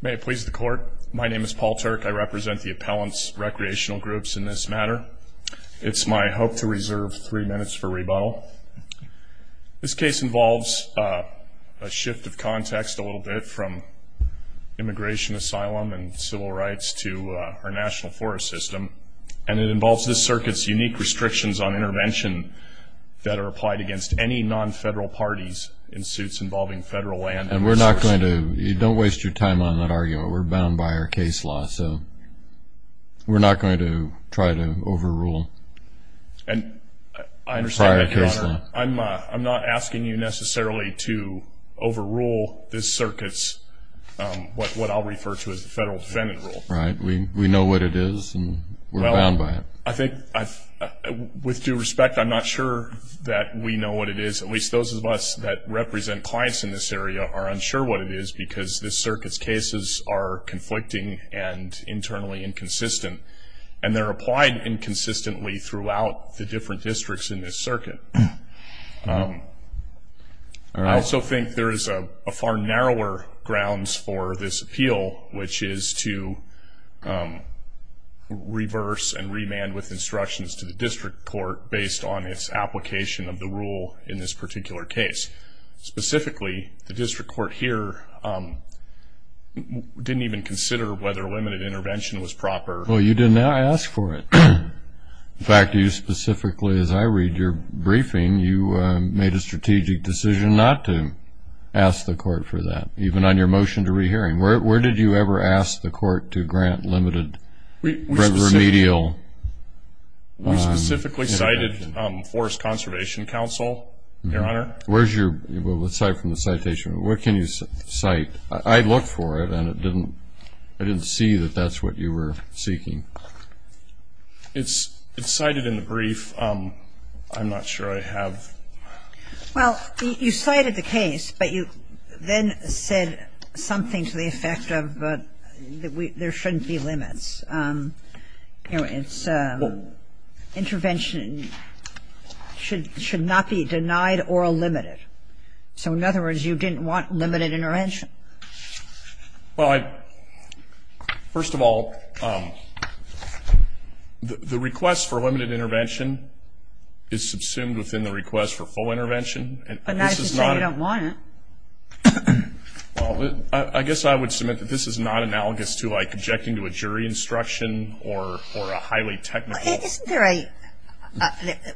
May it please the court. My name is Paul Turk. I represent the appellants recreational groups in this matter It's my hope to reserve three minutes for rebuttal this case involves a shift of context a little bit from Immigration asylum and civil rights to our national forest system and it involves this circuits unique restrictions on intervention That are applied against any non-federal parties in suits involving federal land and we're not going to you don't waste your time on that Are you we're bound by our case law, so? we're not going to try to overrule and I understand I'm I'm not asking you necessarily to overrule this circuits What what I'll refer to as the federal defendant rule, right? We we know what it is We're bound by it I think I've With due respect. I'm not sure that we know what it is at least those of us that represent clients in this area are unsure what it is because this circuits cases are conflicting and Internally inconsistent and they're applied inconsistently throughout the different districts in this circuit I also think there is a far narrower grounds for this appeal which is to Reverse and remand with instructions to the district court based on its application of the rule in this particular case specifically the district court here Didn't even consider whether a limited intervention was proper. Well, you didn't ask for it In fact you specifically as I read your briefing you made a strategic decision not to Asked the court for that even on your motion to rehearing. Where did you ever ask the court to grant limited? remedial Specifically cited Forest Conservation Council Where's your aside from the citation? What can you cite? I'd look for it and it didn't I didn't see that That's what you were seeking It's it's cited in the brief I'm not sure I have Well, you cited the case but you then said something to the effect of that we there shouldn't be limits you know, it's Intervention Should should not be denied or a limited. So in other words, you didn't want limited intervention well, I first of all The Request for limited intervention is subsumed within the request for full intervention and I don't want it Well, I guess I would submit that this is not analogous to like objecting to a jury instruction or or a highly technical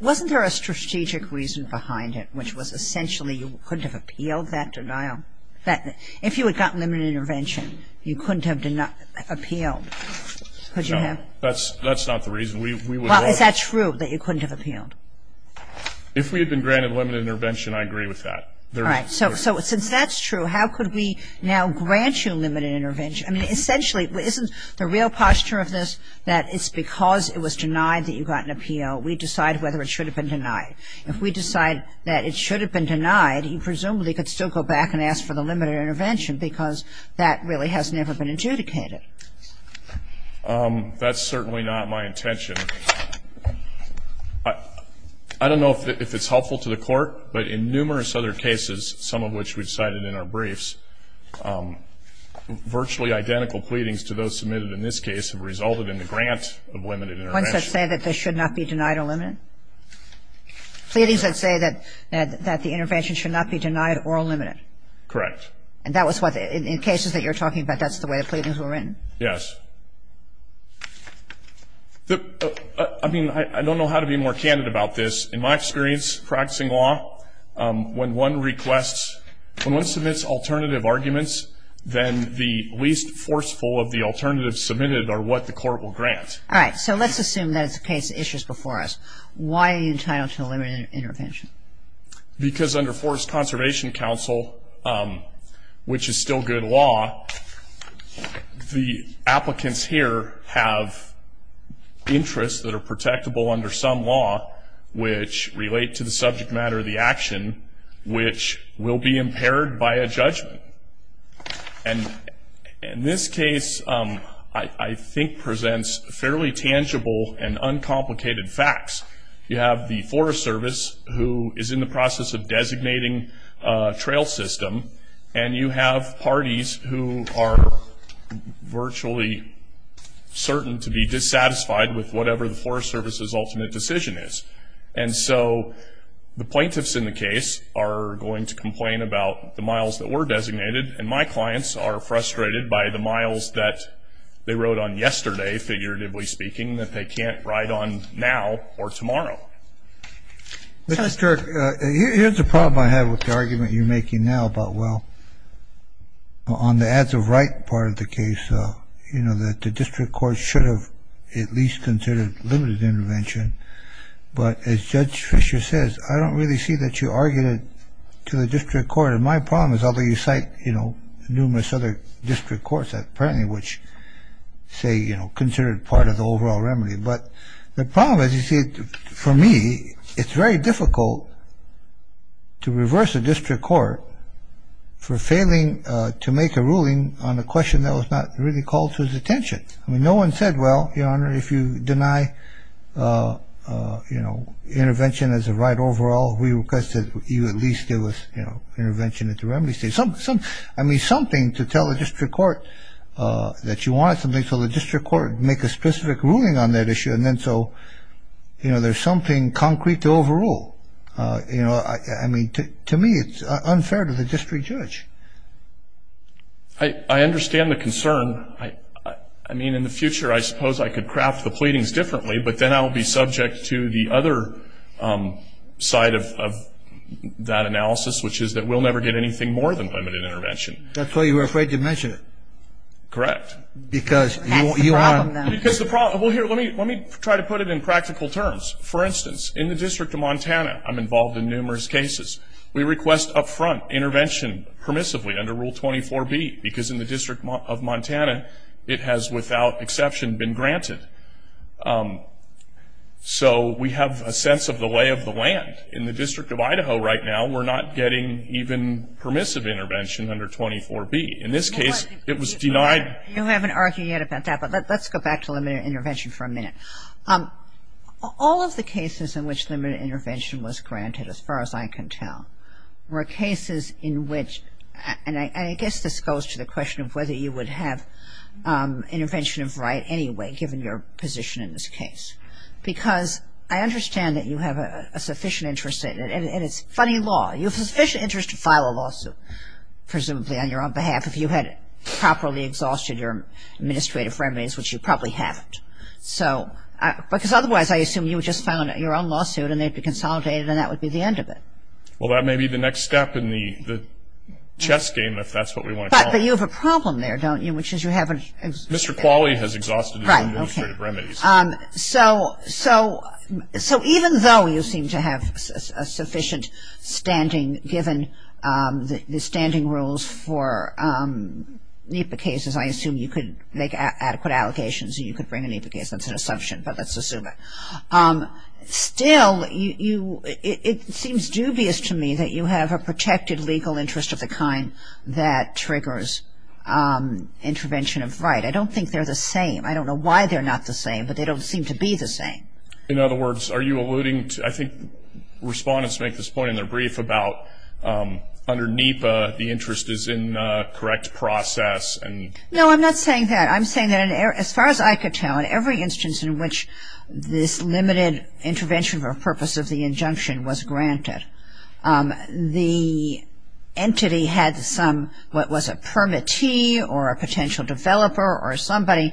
Wasn't there a strategic reason behind it which was essentially you couldn't have appealed that denial that if you had gotten them an intervention You couldn't have did not appeal That's that's not the reason we well, is that true that you couldn't have appealed If we had been granted limited intervention, I agree with that. All right, so so it since that's true How could we now grant you a limited intervention? I mean essentially isn't the real posture of this that it's because it was denied that you got an appeal We decide whether it should have been denied if we decide that it should have been denied You presumably could still go back and ask for the limited intervention because that really has never been adjudicated That's certainly not my intention But I don't know if it's helpful to the court, but in numerous other cases some of which we've cited in our briefs Virtually identical pleadings to those submitted in this case have resulted in the grant of women It's a say that this should not be denied or limited Pleadings that say that that the intervention should not be denied or limited Correct, and that was what in cases that you're talking about. That's the way the pleadings were written. Yes The I mean, I don't know how to be more candid about this in my experience practicing law When one requests when one submits alternative arguments Then the least forceful of the alternatives submitted are what the court will grant All right. So let's assume that it's a case of issues before us. Why are you entitled to a limited intervention? Because under Forest Conservation Council Which is still good law The applicants here have Interests that are protectable under some law which relate to the subject matter of the action which will be impaired by a judgment and in this case I think presents fairly tangible and uncomplicated facts You have the Forest Service who is in the process of designating? Trail system and you have parties who are virtually certain to be dissatisfied with whatever the Forest Service's ultimate decision is and so The plaintiffs in the case are going to complain about the miles that were designated and my clients are Frustrated by the miles that they wrote on yesterday figuratively speaking that they can't write on now or tomorrow Mr. Here's the problem I have with the argument you're making now about well On the ads of right part of the case, you know that the district court should have at least considered limited intervention But as Judge Fisher says, I don't really see that you argued it to the district court And my problem is although you cite, you know numerous other district courts that apparently which Say, you know considered part of the overall remedy, but the problem as you see it for me, it's very difficult to reverse a district court For failing to make a ruling on the question that was not really called to his attention I mean no one said well, your honor if you deny You know intervention as a right overall we requested you at least give us, you know intervention at the remedy state some some I mean something to tell the district court That you want something so the district court make a specific ruling on that issue and then so You know, there's something concrete to overall, you know, I mean to me it's unfair to the district judge. I Understand the concern I I mean in the future, I suppose I could craft the pleadings differently, but then I'll be subject to the other side of That analysis which is that we'll never get anything more than limited intervention. That's why you were afraid to mention it Correct, because you are because the problem here Let me let me try to put it in practical terms for instance in the District of Montana I'm involved in numerous cases We request upfront intervention permissively under rule 24 B because in the District of Montana it has without exception been granted So we have a sense of the lay of the land in the District of Idaho right now We're not getting even permissive intervention under 24 B in this case It was denied you haven't argued yet about that. But let's go back to limited intervention for a minute All of the cases in which limited intervention was granted as far as I can tell Were cases in which and I guess this goes to the question of whether you would have Intervention of right anyway, given your position in this case Because I understand that you have a sufficient interest in it and it's funny law you have a sufficient interest to file a lawsuit Presumably on your own behalf if you had it properly exhausted your administrative remedies, which you probably haven't So because otherwise I assume you just found out your own lawsuit and they'd be consolidated and that would be the end of it well, that may be the next step in the Chess game if that's what we want, but you have a problem there. Don't you which is you haven't mr Exhausted So so so even though you seem to have a sufficient standing given the standing rules for NEPA cases, I assume you could make adequate allegations. You could bring any because that's an assumption, but let's assume it Still you it seems dubious to me that you have a protected legal interest of the kind that triggers Intervention of right. I don't think they're the same I don't know why they're not the same, but they don't seem to be the same. In other words. Are you alluding to I think? respondents make this point in their brief about Under NEPA the interest is in correct process and no I'm not saying that I'm saying that as far as I could tell in Every instance in which this limited intervention for purpose of the injunction was granted the Entity had some what was a permittee or a potential developer or somebody?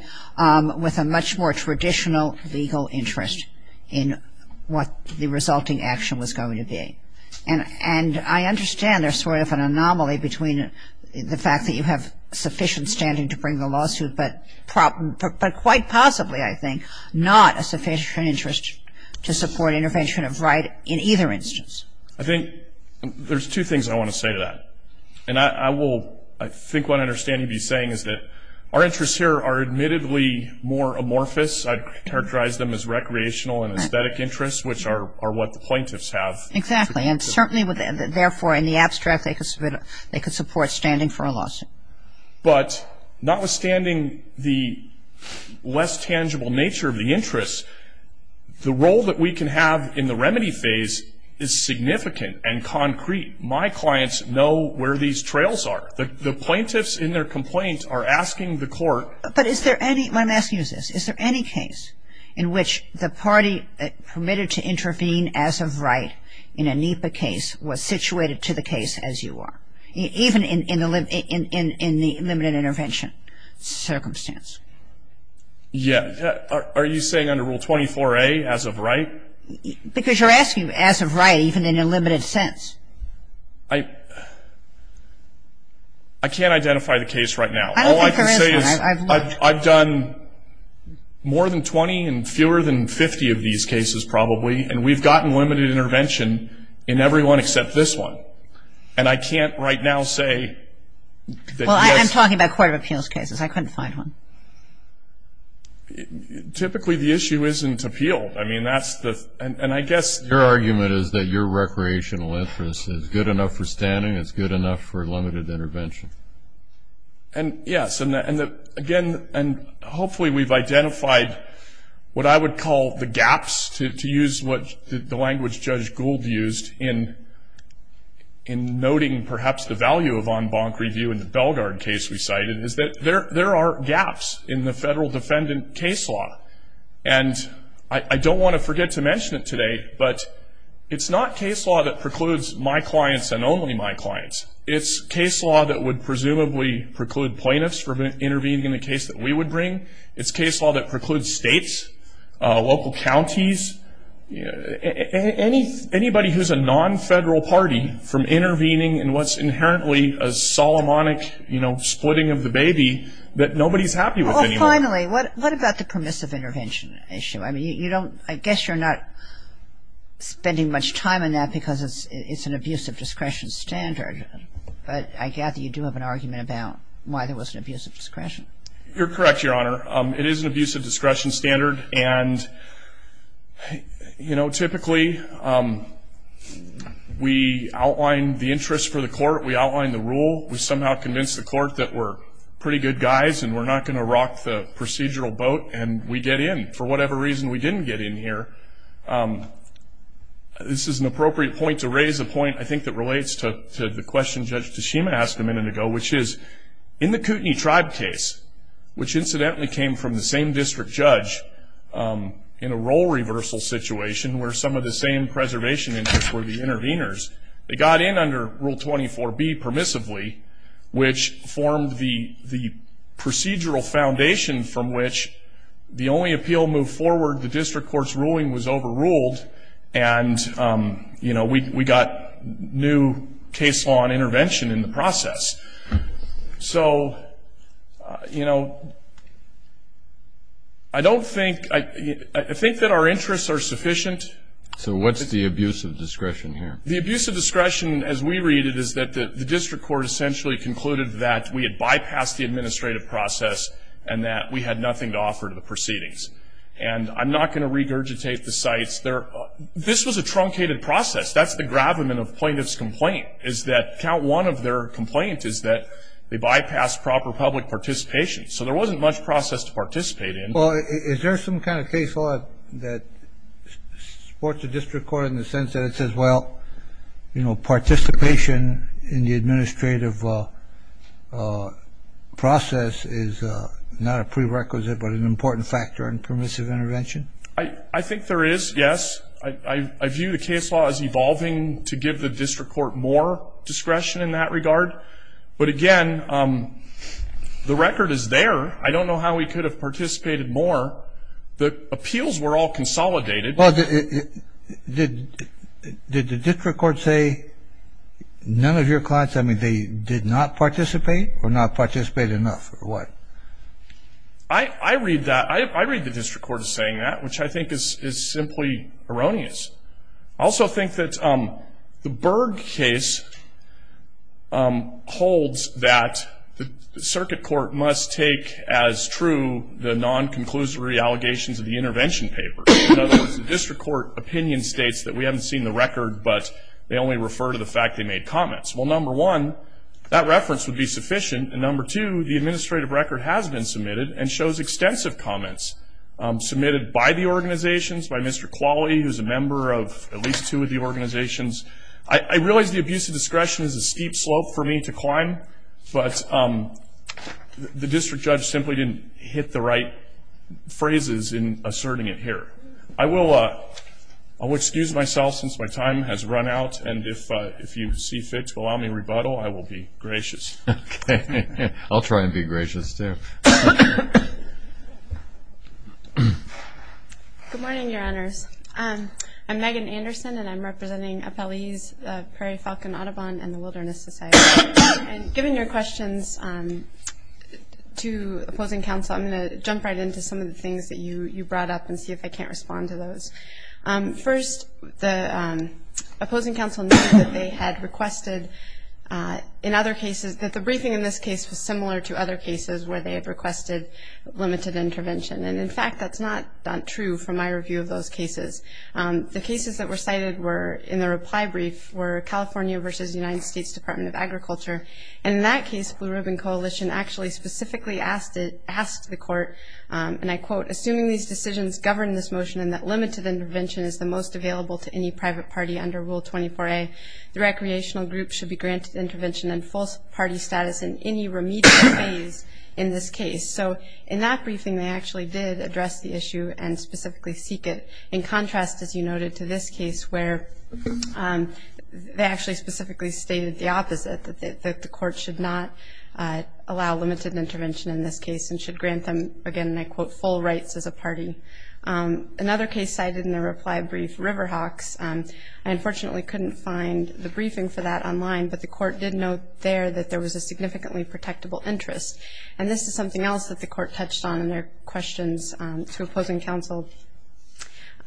with a much more traditional legal interest in what the resulting action was going to be and and I understand there's sort of an anomaly between The fact that you have sufficient standing to bring the lawsuit, but problem, but quite possibly I think not a sufficient interest to support intervention of right in either instance. I think There's two things I want to say to that and I will I think what I understand You'd be saying is that our interests here are admittedly more amorphous I'd characterize them as recreational and aesthetic interests, which are what the plaintiffs have exactly and certainly within therefore in the abstract they could submit they could support standing for a lawsuit, but notwithstanding the less tangible nature of the interests The role that we can have in the remedy phase is Significant and concrete my clients know where these trails are the the plaintiffs in their complaints are asking the court But is there any I'm asking is this is there any case in which the party? Permitted to intervene as of right in a NEPA case was situated to the case as you are even in the limit in the limited intervention circumstance Yeah, are you saying under rule 24 a as of right because you're asking as of right even in a limited sense I Can't identify the case right now I've done More than 20 and fewer than 50 of these cases probably and we've gotten limited intervention in everyone except this one And I can't right now say I'm talking about court of appeals cases. I couldn't find one Typically the issue isn't appeal I mean, that's the and I guess your argument is that your recreational interest is good enough for standing It's good enough for limited intervention And yes, and again and hopefully we've identified what I would call the gaps to use what the language judge Gould used in in Perhaps the value of on bonk review in the Belgard case we cited is that there there are gaps in the federal defendant case law and I don't want to forget to mention it today But it's not case law that precludes my clients and only my clients It's case law that would presumably preclude plaintiffs for intervening in the case that we would bring its case law that precludes states local counties You know Any anybody who's a non-federal party from intervening and what's inherently a Solomonic, you know Splitting of the baby that nobody's happy with finally. What what about the permissive intervention issue? I mean, you don't I guess you're not Spending much time in that because it's it's an abuse of discretion standard But I gather you do have an argument about why there was an abuse of discretion. You're correct. Your honor it is an abuse of discretion standard and Hey, you know typically We outlined the interest for the court we outlined the rule We somehow convinced the court that we're pretty good guys And we're not going to rock the procedural boat and we get in for whatever reason we didn't get in here This is an appropriate point to raise a point I think that relates to the question judge Tashima asked a minute ago, which is in the Kootenai tribe case Which incidentally came from the same district judge? In a role reversal situation where some of the same preservation interests were the interveners they got in under rule 24 be permissively which formed the the procedural foundation from which the only appeal move forward the district courts ruling was overruled and You know, we got new case law and intervention in the process so you know, I Think that our interests are sufficient So what's the abuse of discretion here the abuse of discretion as we read it? Is that the district court essentially concluded that we had bypassed the administrative process and that we had nothing to offer to the proceedings? And I'm not going to regurgitate the sites there. This was a truncated process That's the gravamen of plaintiffs complaint is that count one of their complaint is that they bypassed proper public participation So there wasn't much process to participate in. Well, is there some kind of case law that Supports the district court in the sense that it says well, you know participation in the administrative Process is not a prerequisite but an important factor in permissive intervention. I I think there is yes I view the case law as evolving to give the district court more discretion in that regard. But again The record is there. I don't know how we could have participated more the appeals were all consolidated. Well, it did Did the district court say? None of your clients. I mean they did not participate or not participate enough or what? I Read that I read the district court is saying that which I think is simply erroneous. I also think that um, the Berg case Holds that the circuit court must take as true the non-conclusory allegations of the intervention paper District court opinion states that we haven't seen the record, but they only refer to the fact they made comments Well number one that reference would be sufficient and number two, the administrative record has been submitted and shows extensive comments Submitted by the organization's by mr. Quality who's a member of at least two of the organization's I realize the abuse of discretion is a steep slope for me to climb but The district judge simply didn't hit the right Phrases in asserting it here. I will uh, I Will excuse myself since my time has run out and if if you see fit to allow me rebuttal I will be gracious I'll try and be gracious, too Good morning, your honors I'm Megan Anderson, and I'm representing a police prairie falcon Audubon and the Wilderness Society and giving your questions To opposing counsel, I'm going to jump right into some of the things that you you brought up and see if I can't respond to those first the Opposing counsel that they had requested In other cases that the briefing in this case was similar to other cases where they have requested Limited intervention and in fact, that's not true from my review of those cases The cases that were cited were in the reply brief were California versus United States Department of Agriculture And in that case blue ribbon coalition actually specifically asked it asked the court And I quote assuming these decisions govern this motion and that limited intervention is the most available to any private party under Rule 24a The recreational group should be granted intervention and false party status in any remedial phase in this case So in that briefing, they actually did address the issue and specifically seek it in contrast as you noted to this case where? They actually specifically stated the opposite that the court should not Allow limited intervention in this case and should grant them again and I quote full rights as a party Another case cited in the reply brief River Hawks I unfortunately couldn't find the briefing for that online But the court did note there that there was a significantly protectable interest and this is something else that the court touched on in their questions to opposing counsel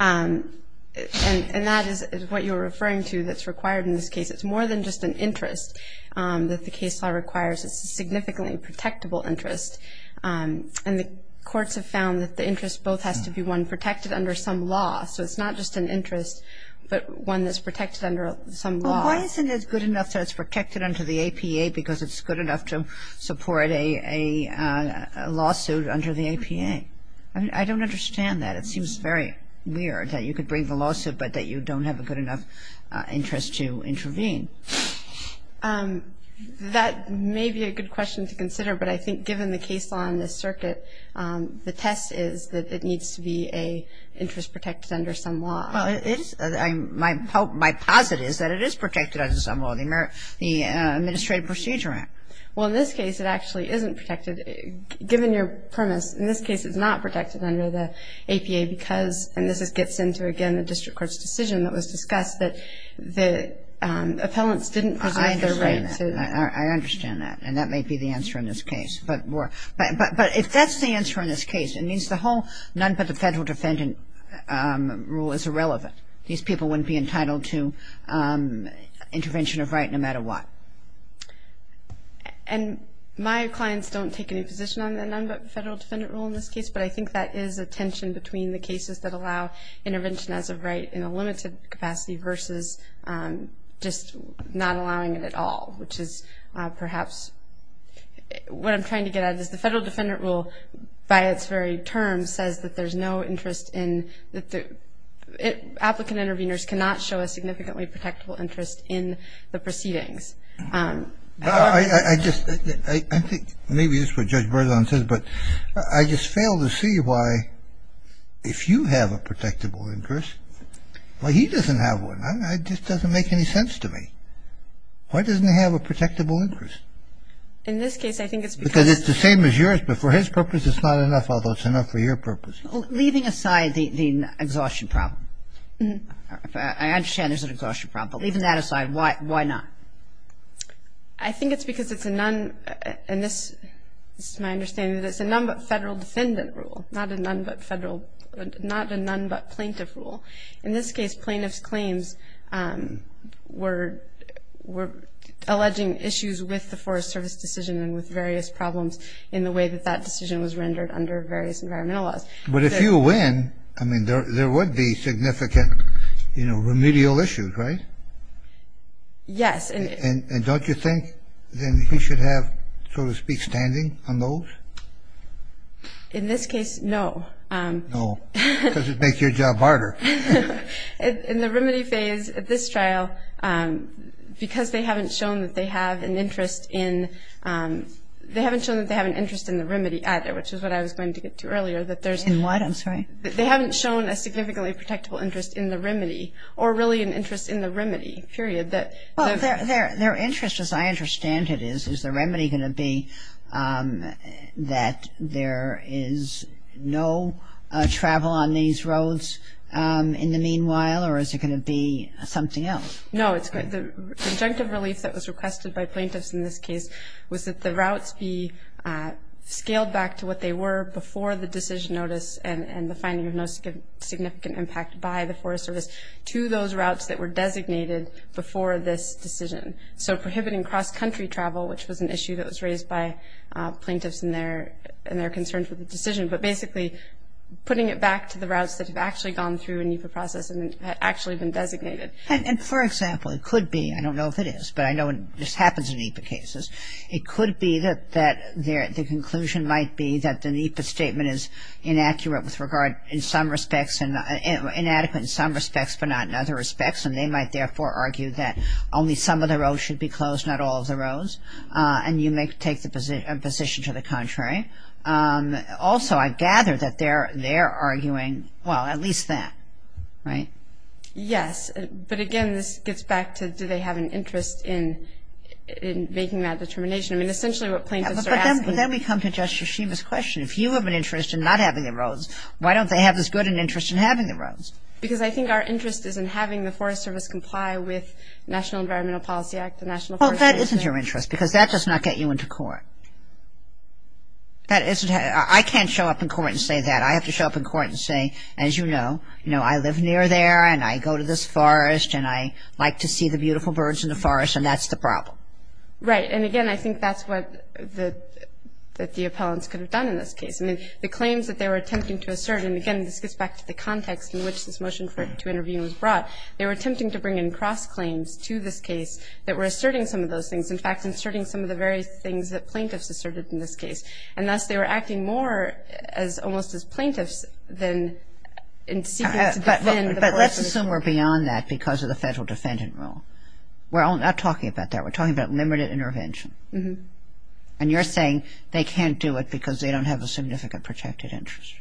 And that is what you're referring to that's required in this case it's more than just an interest That the case law requires. It's a significantly protectable interest And the courts have found that the interest both has to be one protected under some law So it's not just an interest but one that's protected under some law Isn't it good enough? So it's protected under the APA because it's good enough to support a Lawsuit under the APA. I don't understand that. It seems very weird that you could bring the lawsuit, but that you don't have a good enough interest to intervene That may be a good question to consider but I think given the case law in this circuit The test is that it needs to be a interest protected under some law My hope my posit is that it is protected under some law the Administrative Procedure Act. Well in this case, it actually isn't protected given your premise in this case it's not protected under the APA because and this is gets into again a district courts decision that was discussed that the Appellants didn't present their right to Understand that and that may be the answer in this case But more but but if that's the answer in this case, it means the whole none, but the federal defendant Rule is irrelevant. These people wouldn't be entitled to Intervention of right no matter what And my clients don't take any position on the number federal defendant rule in this case but I think that is a tension between the cases that allow intervention as a right in a limited capacity versus Just not allowing it at all, which is perhaps What I'm trying to get at is the federal defendant rule by its very term says that there's no interest in that the Applicant interveners cannot show a significantly protectable interest in the proceedings No, I just I think maybe it's what judge Berzon says, but I just fail to see why If you have a protectable interest Well, he doesn't have one. I just doesn't make any sense to me Why doesn't he have a protectable interest? In this case, I think it's because it's the same as yours before his purpose It's not enough although it's enough for your purpose leaving aside the the exhaustion problem Mm-hmm. I understand there's an exhaustion problem even that aside. Why why not? I Think it's because it's a nun and this is my understanding That's a number federal defendant rule not a nun, but federal not a nun, but plaintiff rule in this case plaintiffs claims were Were Alleging issues with the Forest Service decision and with various problems in the way that that decision was rendered under various environmental laws But if you win, I mean there would be significant, you know remedial issues, right? Yes, and and don't you think then you should have so to speak standing on those? In this case. No, no, does it make your job harder? in the remedy phase at this trial Because they haven't shown that they have an interest in They haven't shown that they have an interest in the remedy out there Which is what I was going to get to earlier that there's in what I'm sorry They haven't shown a significantly protectable interest in the remedy or really an interest in the remedy period that Their interest as I understand it is is the remedy going to be That there is no Travel on these roads In the meanwhile, or is it going to be something else? No, it's good the conjunctive relief that was requested by plaintiffs in this case was that the routes be Scaled back to what they were before the decision notice and and the finding of no Significant impact by the Forest Service to those routes that were designated before this decision So prohibiting cross-country travel, which was an issue that was raised by plaintiffs in there and their concerns with the decision, but basically Putting it back to the routes that have actually gone through a NEPA process and actually been designated And for example, it could be I don't know if it is, but I know it just happens in NEPA cases It could be that that there the conclusion might be that the NEPA statement is inaccurate with regard in some respects and Inadequate in some respects, but not in other respects and they might therefore argue that only some of the roads should be closed Not all of the roads and you may take the position position to the contrary Also, I gather that they're they're arguing well at least that right Yes, but again, this gets back to do they have an interest in in making that determination I mean essentially what plaintiffs are asking But then we come to Justice Schieva's question if you have an interest in not having the roads Why don't they have this good an interest in having the roads? Because I think our interest is in having the Forest Service comply with National Environmental Policy Act the National Forest Service. Well, that isn't your interest because that does not get you into court That isn't I can't show up in court and say that I have to show up in court and say as you know You know I live near there and I go to this forest and I like to see the beautiful birds in the forest and that's the problem Right. And again, I think that's what the that the appellants could have done in this case I mean the claims that they were attempting to assert and again this gets back to the context in which this motion for to interview Was brought they were attempting to bring in cross claims to this case that were asserting some of those things in fact inserting some of the very things that plaintiffs asserted in this case and thus they were acting more as almost as plaintiffs than In secret, but let's assume we're beyond that because of the federal defendant rule. We're all not talking about that We're talking about limited intervention. Mm-hmm, and you're saying they can't do it because they don't have a significant protected interest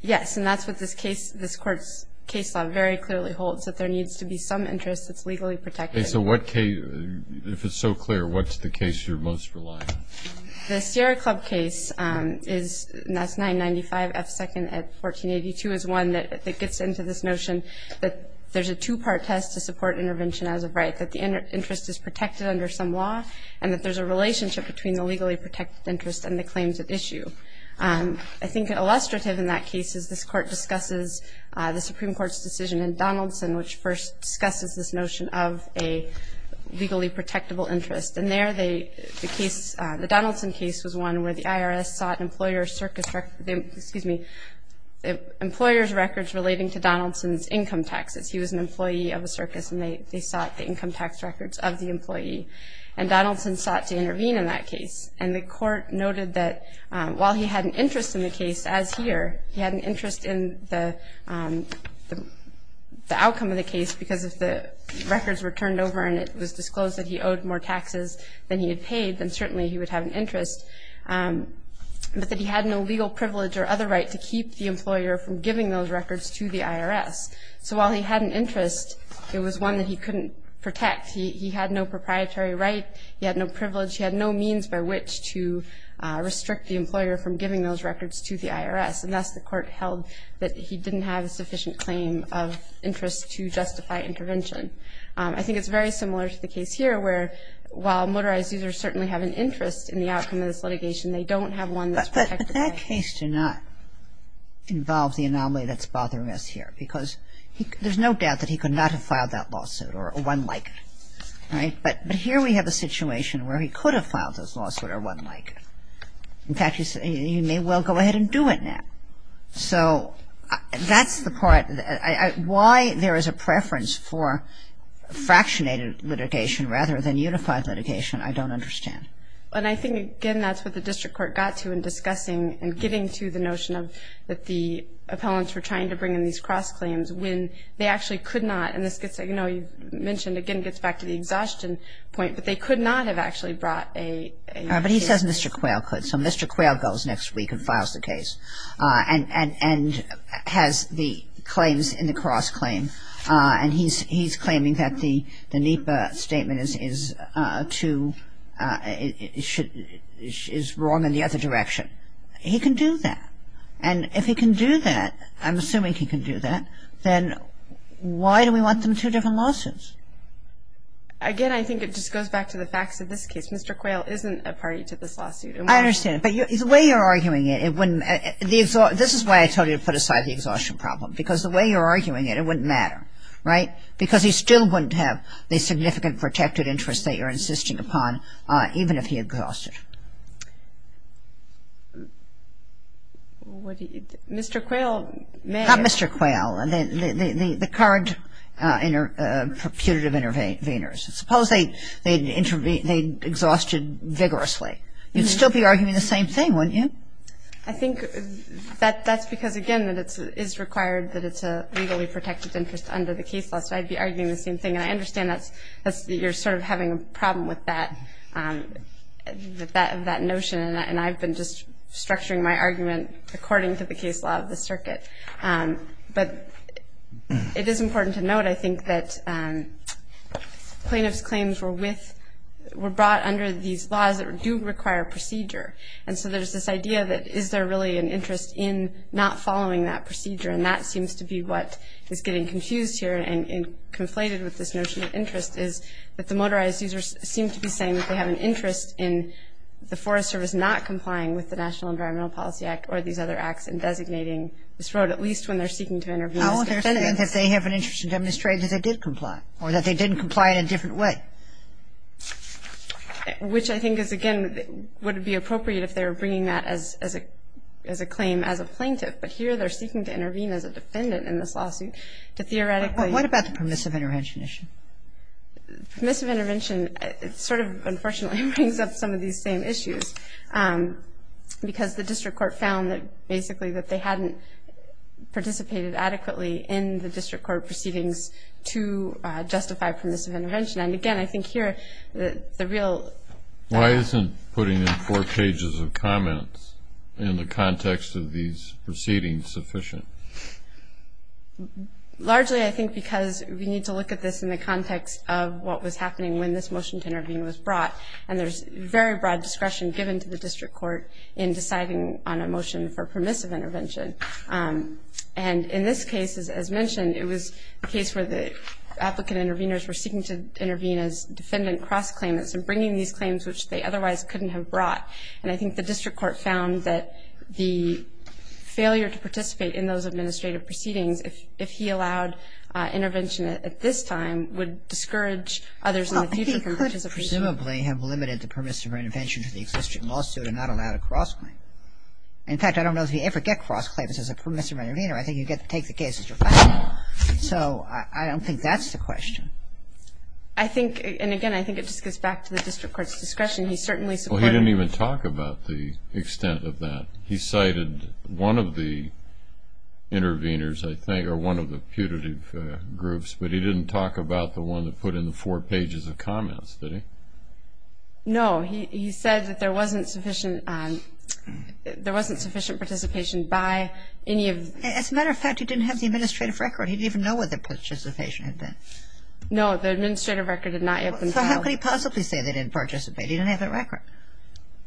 Yes, and that's what this case this court's case law very clearly holds that there needs to be some interest that's legally protected So what case if it's so clear, what's the case you're most reliant the Sierra Club case? Is that's 995 F second at 1482 is one that it gets into this notion But there's a two-part test to support intervention as a right that the interest is protected under some law and that there's a relationship Between the legally protected interest and the claims at issue I think illustrative in that case is this court discusses the Supreme Court's decision in Donaldson which first discusses this notion of a Legally protectable interest and there they the case the Donaldson case was one where the IRS sought employer circus, right? Excuse me Employers records relating to Donaldson's income taxes he was an employee of a circus and they they sought the income tax records of the employee and Donaldson sought to intervene in that case and the court noted that while he had an interest in the case as here he had an interest in the The outcome of the case because if the Records were turned over and it was disclosed that he owed more taxes than he had paid then certainly he would have an interest But that he had no legal privilege or other right to keep the employer from giving those records to the IRS So while he had an interest it was one that he couldn't protect. He had no proprietary, right? he had no privilege he had no means by which to Restrict the employer from giving those records to the IRS and that's the court held that he didn't have a sufficient claim of Interest to justify intervention. I think it's very similar to the case here where while motorized users certainly have an interest in the outcome Of this litigation. They don't have one. That's a case to not Involve the anomaly that's bothering us here because there's no doubt that he could not have filed that lawsuit or one like Right, but but here we have a situation where he could have filed those lawsuits or one like In fact, you may well go ahead and do it now so that's the part I why there is a preference for Fractionated litigation rather than unified litigation. I don't understand and I think again that's what the district court got to in discussing and getting to the notion of that the Appellants were trying to bring in these cross claims when they actually could not and this gets a you know You mentioned again gets back to the exhaustion point, but they could not have actually brought a but he says mr Quayle could so mr. Quayle goes next week and files the case and and and has the claims in the cross claim And he's he's claiming that the the NEPA statement is is to Should is wrong in the other direction He can do that. And if he can do that, I'm assuming he can do that then Why do we want them two different lawsuits? Again I think it just goes back to the facts of this case. Mr. Quayle isn't a party to this lawsuit I understand but you the way you're arguing it It wouldn't the exhort this is why I told you to put aside the exhaustion problem because the way you're arguing it It wouldn't matter right because he still wouldn't have the significant protected interest that you're insisting upon Even if he exhausted Mr. Quayle, mr. Quayle and then the the card In a putative intervenors suppose they they'd intervene they'd exhausted vigorously you'd still be arguing the same thing wouldn't you I think That that's because again that it's is required that it's a legally protected interest under the case law So I'd be arguing the same thing and I understand that's that's that you're sort of having a problem with that That that notion and I've been just structuring my argument according to the case law of the circuit but It is important to note I think that Plaintiffs claims were with Were brought under these laws that do require procedure And so there's this idea that is there really an interest in not following that procedure and that seems to be what is getting confused here and conflated with this notion of interest is that the motorized users seem to be saying that they have an interest in The Forest Service not complying with the National Environmental Policy Act or these other acts and designating This road at least when they're seeking to intervene If they have an interest in demonstrate that they did comply or that they didn't comply in a different way Which I think is again would it be appropriate if they were bringing that as as a as a claim as a plaintiff But here they're seeking to intervene as a defendant in this lawsuit to theoretically. What about the permissive intervention issue? Permissive intervention, it's sort of unfortunately brings up some of these same issues Because the district court found that basically that they hadn't participated adequately in the district court proceedings to Justify permissive intervention and again, I think here that the real Why isn't putting in four pages of comments in the context of these proceedings sufficient? Largely I think because we need to look at this in the context of what was happening when this motion to intervene was brought and There's very broad discretion given to the district court in deciding on a motion for permissive intervention and in this case is as mentioned it was a case where the Applicant interveners were seeking to intervene as defendant cross claimants and bringing these claims which they otherwise couldn't have brought and I think the district court found that the failure to participate in those administrative proceedings if if he allowed Intervention at this time would discourage others Presumably have limited the permissive intervention to the existing lawsuit and not allowed a cross claim In fact, I don't know if he ever get cross claims as a permissive intervener. I think you get to take the case So I don't think that's the question. I Think and again, I think it just gets back to the district courts discretion. He certainly supported He didn't even talk about the extent of that. He cited one of the Interveners I think are one of the putative groups, but he didn't talk about the one that put in the four pages of comments No, he said that there wasn't sufficient There wasn't sufficient participation by any of as a matter of fact, he didn't have the administrative record He didn't even know what the participation had been No, the administrative record did not yet. How could he possibly say they didn't participate? He didn't have a record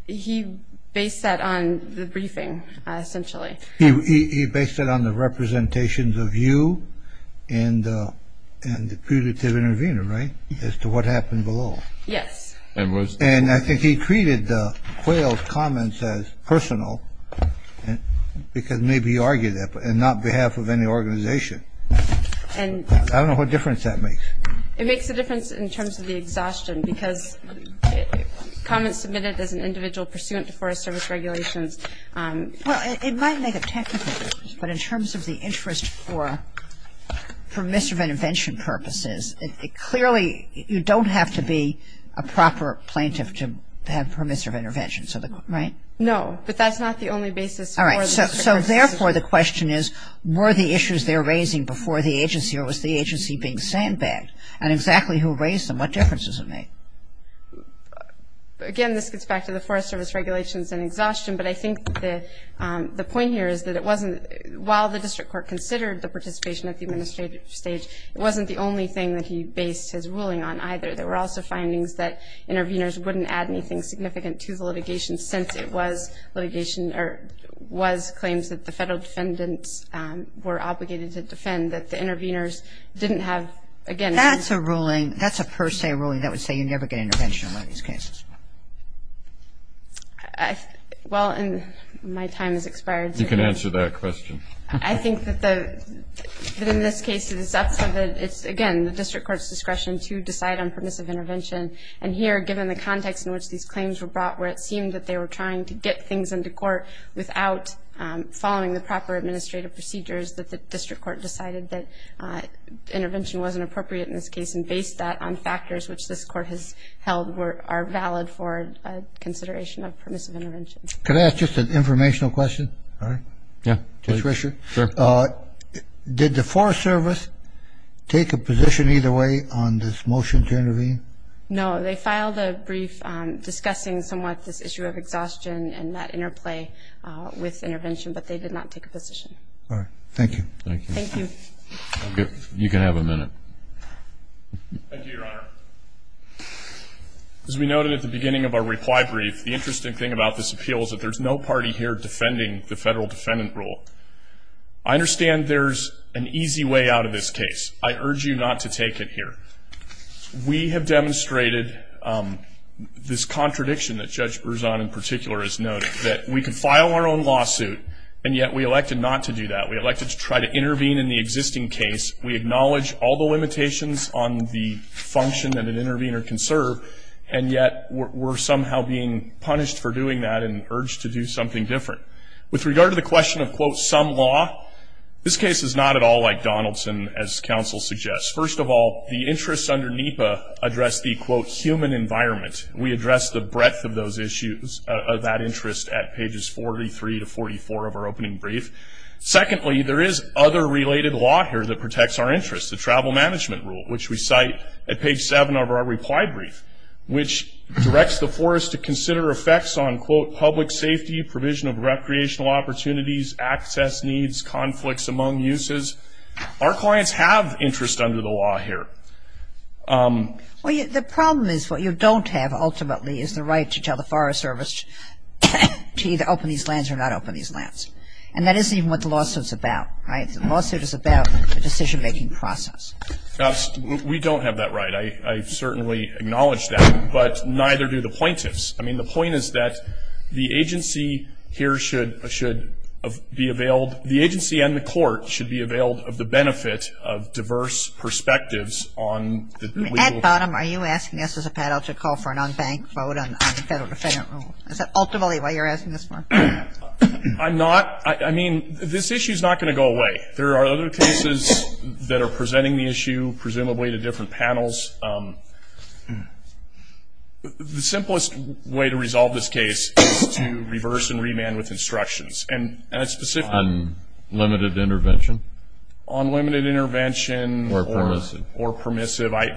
He based that on the briefing Essentially he based it on the representations of you and And the putative intervener, right as to what happened below. Yes, and was and I think he treated the quails comments as personal Because maybe argue that but and not behalf of any organization and I don't know what difference that makes it makes a difference in terms of the exhaustion because Comments submitted as an individual pursuant to Forest Service regulations But in terms of the interest for Permissive intervention purposes it clearly you don't have to be a proper plaintiff to have permissive intervention So the right no, but that's not the only basis All right so therefore the question is Were the issues they're raising before the agency or was the agency being sandbagged and exactly who raised them what differences of me? Again this gets back to the Forest Service regulations and exhaustion But I think the the point here is that it wasn't while the district court considered the participation at the administrative stage It wasn't the only thing that he based his ruling on either there were also findings that interveners wouldn't add anything significant to the litigation since it was litigation or Was claims that the federal defendants were obligated to defend that the interveners didn't have again That's a ruling that's a per se ruling that would say you never get intervention on these cases Well, and my time is expired you can answer that question I think that the In this case it is up for that It's again the district court's discretion to decide on permissive intervention and here given the context in which these claims were brought where it seemed that they were trying to get things into court without following the proper administrative procedures that the district court decided that Intervention wasn't appropriate in this case and based that on factors, which this court has held were are valid for Consideration of permissive intervention. Can I ask just an informational question? All right. Yeah, just Richard sir Did the Forest Service? Take a position either way on this motion to intervene. No, they filed a brief Discussing somewhat this issue of exhaustion and that interplay with intervention, but they did not take a position. All right. Thank you You can have a minute As we noted at the beginning of our reply brief the interesting thing about this appeal is that there's no party here defending the federal defendant rule I Understand there's an easy way out of this case. I urge you not to take it here We have demonstrated This contradiction that judge Berzon in particular is noted that we can file our own lawsuit And yet we elected not to do that. We elected to try to intervene in the existing case We acknowledge all the limitations on the function and an intervener can serve and yet We're somehow being punished for doing that and urged to do something different with regard to the question of quote some law This case is not at all like Donaldson as counsel suggests First of all the interests under NEPA address the quote human environment We address the breadth of those issues of that interest at pages 43 to 44 of our opening brief Secondly there is other related law here that protects our interests the travel management rule which we cite at page 7 of our reply brief Which directs the forest to consider effects on quote public safety provision of recreational opportunities Access needs conflicts among uses our clients have interest under the law here Well, the problem is what you don't have ultimately is the right to tell the Forest Service To either open these lands or not open these lands and that isn't even what the lawsuits about right the lawsuit is about a decision-making process We don't have that right. I certainly acknowledge that but neither do the plaintiffs I mean the point is that the agency here should should Be availed the agency and the court should be availed of the benefit of diverse perspectives on At bottom are you asking us as a panel to call for an unbanked vote on the federal defendant rule Is that ultimately why you're asking this one? I'm not I mean this issue is not going to go away. There are other cases that are presenting the issue presumably to different panels The simplest way to resolve this case is to reverse and remand with instructions and a specific Unlimited intervention on limited intervention or permissive or permissive. I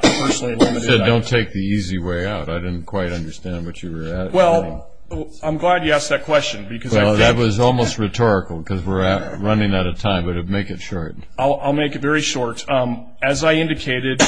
Don't take the easy way out. I didn't quite understand what you were well I'm glad you asked that question because that was almost rhetorical because we're running out of time, but it make it short I'll make it very short as I indicated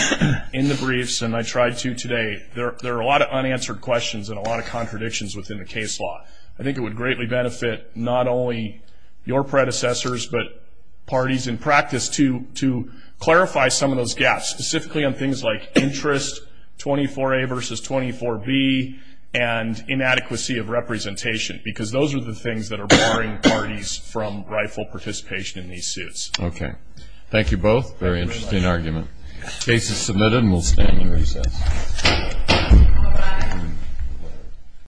in the briefs and I tried to today There are a lot of unanswered questions and a lot of contradictions within the case law I think it would greatly benefit not only your predecessors but parties in practice to to clarify some of those gaps specifically on things like interest 24 a versus 24 B and Inadequacy of representation because those are the things that are boring parties from rightful participation in these suits Okay, thank you both very interesting argument cases submitted and we'll stand